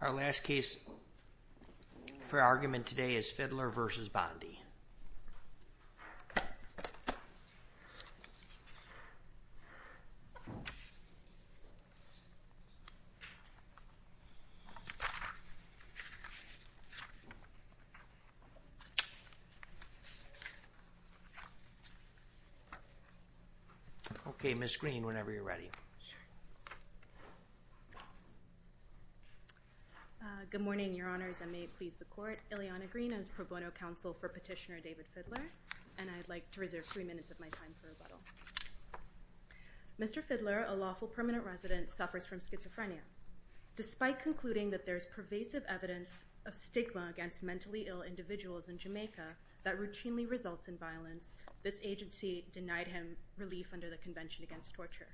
Our last case for argument today is Fiddler v. Bondi. Okay, Ms. Green, whenever you're ready. Good morning, your honors. I may please the court. Ileana Green, I was pro bono counsel for petitioner David Fiddler, and I'd like to reserve three minutes of my time for rebuttal. Mr. Fiddler, a lawful permanent resident, suffers from schizophrenia. Despite concluding that there is pervasive evidence of stigma against mentally ill individuals in Jamaica that routinely results in violence, this agency denied him relief under the Convention Against Torture.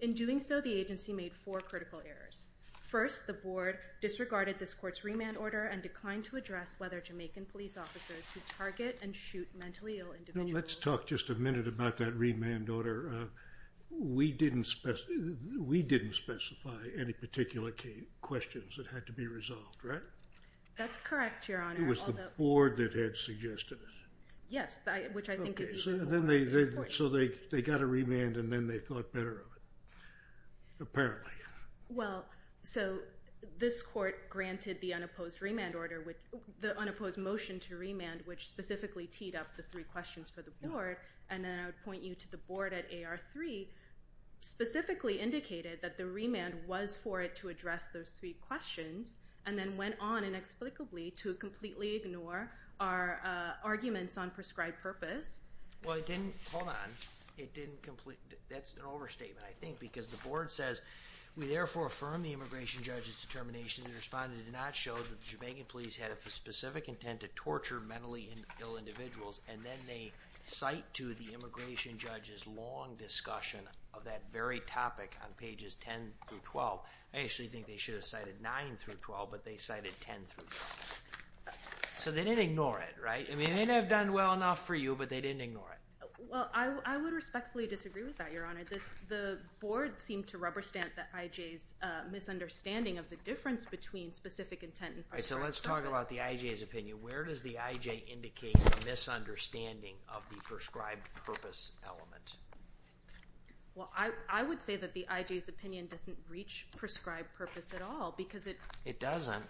In doing so, the agency made four critical errors. First, the board disregarded this court's remand order and declined to address whether Jamaican police officers who target and shoot mentally ill individuals Let's talk just a minute about that remand order. We didn't specify any particular questions that had to be resolved, right? That's correct, your honor. It was the board that had suggested it. Yes, which I think is even more important. So they got a remand and then they thought better of it, apparently. Well, so this court granted the unopposed motion to remand, which specifically teed up the three questions for the board, and then I would point you to the board at AR3, specifically indicated that the remand was for it to address those three questions, and then went on inexplicably to completely ignore our arguments on prescribed purpose. Well, it didn't. Hold on. That's an overstatement, I think, because the board says we therefore affirm the immigration judge's determination to respond and did not show that the Jamaican police had a specific intent to torture mentally ill individuals, and then they cite to the immigration judge's long discussion of that very topic on pages 10 through 12. I actually think they should have cited 9 through 12, but they cited 10 through 12. So they didn't ignore it, right? I mean, they may not have done well enough for you, but they didn't ignore it. Well, I would respectfully disagree with that, your honor. The board seemed to rubber stamp the IJ's misunderstanding of the difference between specific intent and prescribed purpose. All right, so let's talk about the IJ's opinion. Where does the IJ indicate a misunderstanding of the prescribed purpose element? Well, I would say that the IJ's opinion doesn't reach prescribed purpose at all because it— It doesn't.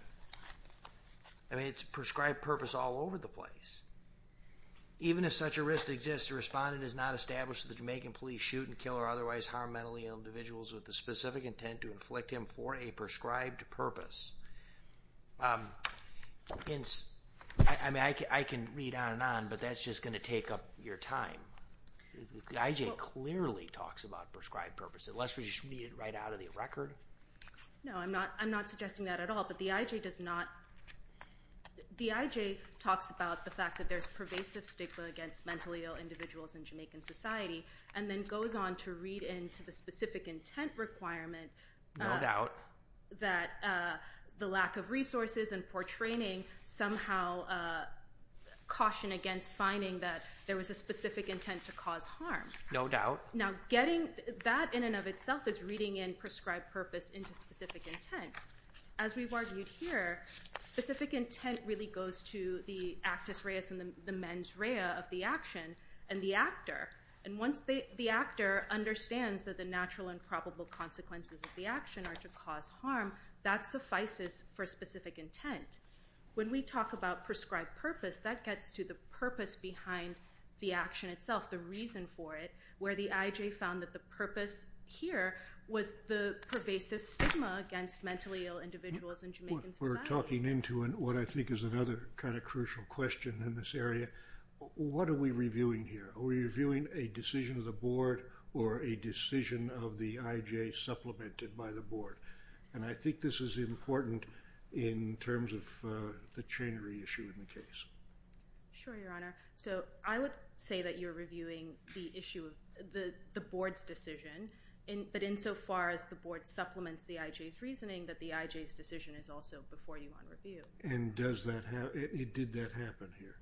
I mean, it's prescribed purpose all over the place. Even if such a risk exists, the respondent has not established that the Jamaican police shoot and kill or otherwise harm mentally ill individuals with the specific intent to inflict him for a prescribed purpose. I mean, I can read on and on, but that's just going to take up your time. The IJ clearly talks about prescribed purpose, unless we just read it right out of the record. No, I'm not suggesting that at all, but the IJ does not— The IJ talks about the fact that there's pervasive stigma against mentally ill individuals in Jamaican society and then goes on to read into the specific intent requirement— —that the lack of resources and poor training somehow caution against finding that there was a specific intent to cause harm. No doubt. Now, getting that in and of itself is reading in prescribed purpose into specific intent. As we've argued here, specific intent really goes to the actus reus and the mens rea of the action and the actor. And once the actor understands that the natural and probable consequences of the action are to cause harm, that suffices for specific intent. When we talk about prescribed purpose, that gets to the purpose behind the action itself, the reason for it, where the IJ found that the purpose here was the pervasive stigma against mentally ill individuals in Jamaican society. We're talking into what I think is another kind of crucial question in this area. What are we reviewing here? Are we reviewing a decision of the board or a decision of the IJ supplemented by the board? And I think this is important in terms of the chain reissue in the case. Sure, Your Honor. So I would say that you're reviewing the issue of the board's decision, but insofar as the board supplements the IJ's reasoning, that the IJ's decision is also before you on review. And did that happen here?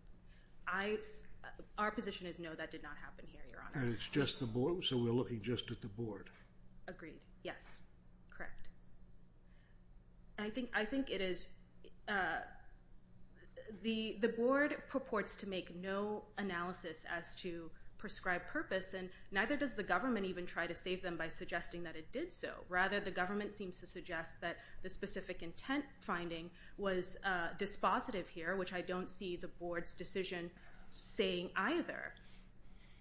Our position is no, that did not happen here, Your Honor. And it's just the board, so we're looking just at the board. Agreed. Yes. Correct. I think it is the board purports to make no analysis as to prescribed purpose, and neither does the government even try to save them by suggesting that it did so. Rather, the government seems to suggest that the specific intent finding was dispositive here, which I don't see the board's decision saying either.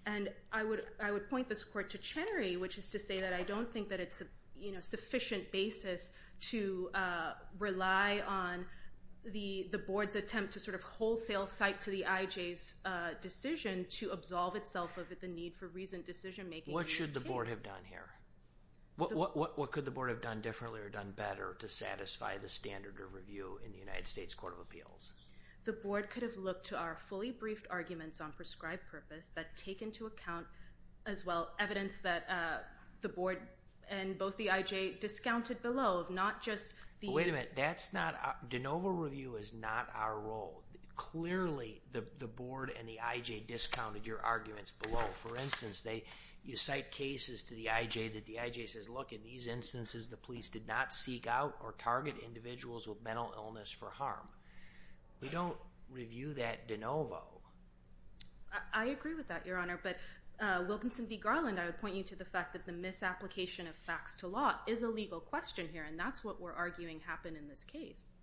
And I would point this court to Chenery, which is to say that I don't think that it's a sufficient basis to rely on the board's attempt to sort of wholesale cite to the IJ's decision to absolve itself of the need for reasoned decision making in this case. What should the board have done here? What could the board have done differently or done better to satisfy the standard of review in the United States Court of Appeals? The board could have looked to our fully briefed arguments on prescribed purpose that take into account, as well, evidence that the board and both the IJ discounted below, not just the – Wait a minute. That's not – de novo review is not our role. Clearly, the board and the IJ discounted your arguments below. For instance, you cite cases to the IJ that the IJ says, look, in these instances, the police did not seek out or target individuals with mental illness for harm. We don't review that de novo. I agree with that, Your Honor, but, Wilkinson v. Garland, I would point you to the fact that the misapplication of facts to law is a legal question here, and that's what we're arguing happened in this case,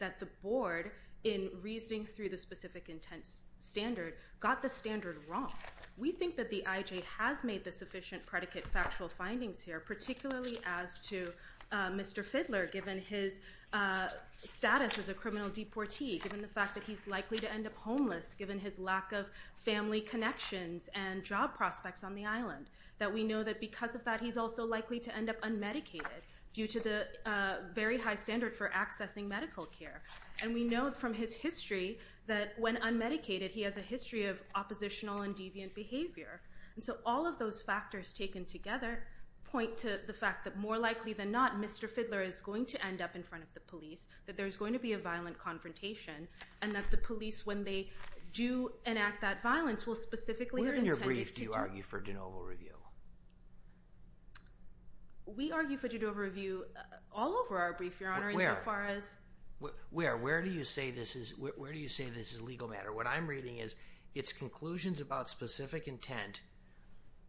that the board, in reasoning through the specific intent standard, got the standard wrong. We think that the IJ has made the sufficient predicate factual findings here, particularly as to Mr. Fidler, given his status as a criminal deportee, given the fact that he's likely to end up homeless, given his lack of family connections and job prospects on the island, that we know that because of that, he's also likely to end up unmedicated due to the very high standard for accessing medical care. And we know from his history that when unmedicated, he has a history of oppositional and deviant behavior. And so all of those factors taken together point to the fact that more likely than not, Mr. Fidler is going to end up in front of the police, that there's going to be a violent confrontation, and that the police, when they do enact that violence, will specifically have intended to do— Where in your brief do you argue for de novo review? We argue for de novo review all over our brief, Your Honor, insofar as— Where? Where do you say this is a legal matter? What I'm reading is it's conclusions about specific intent.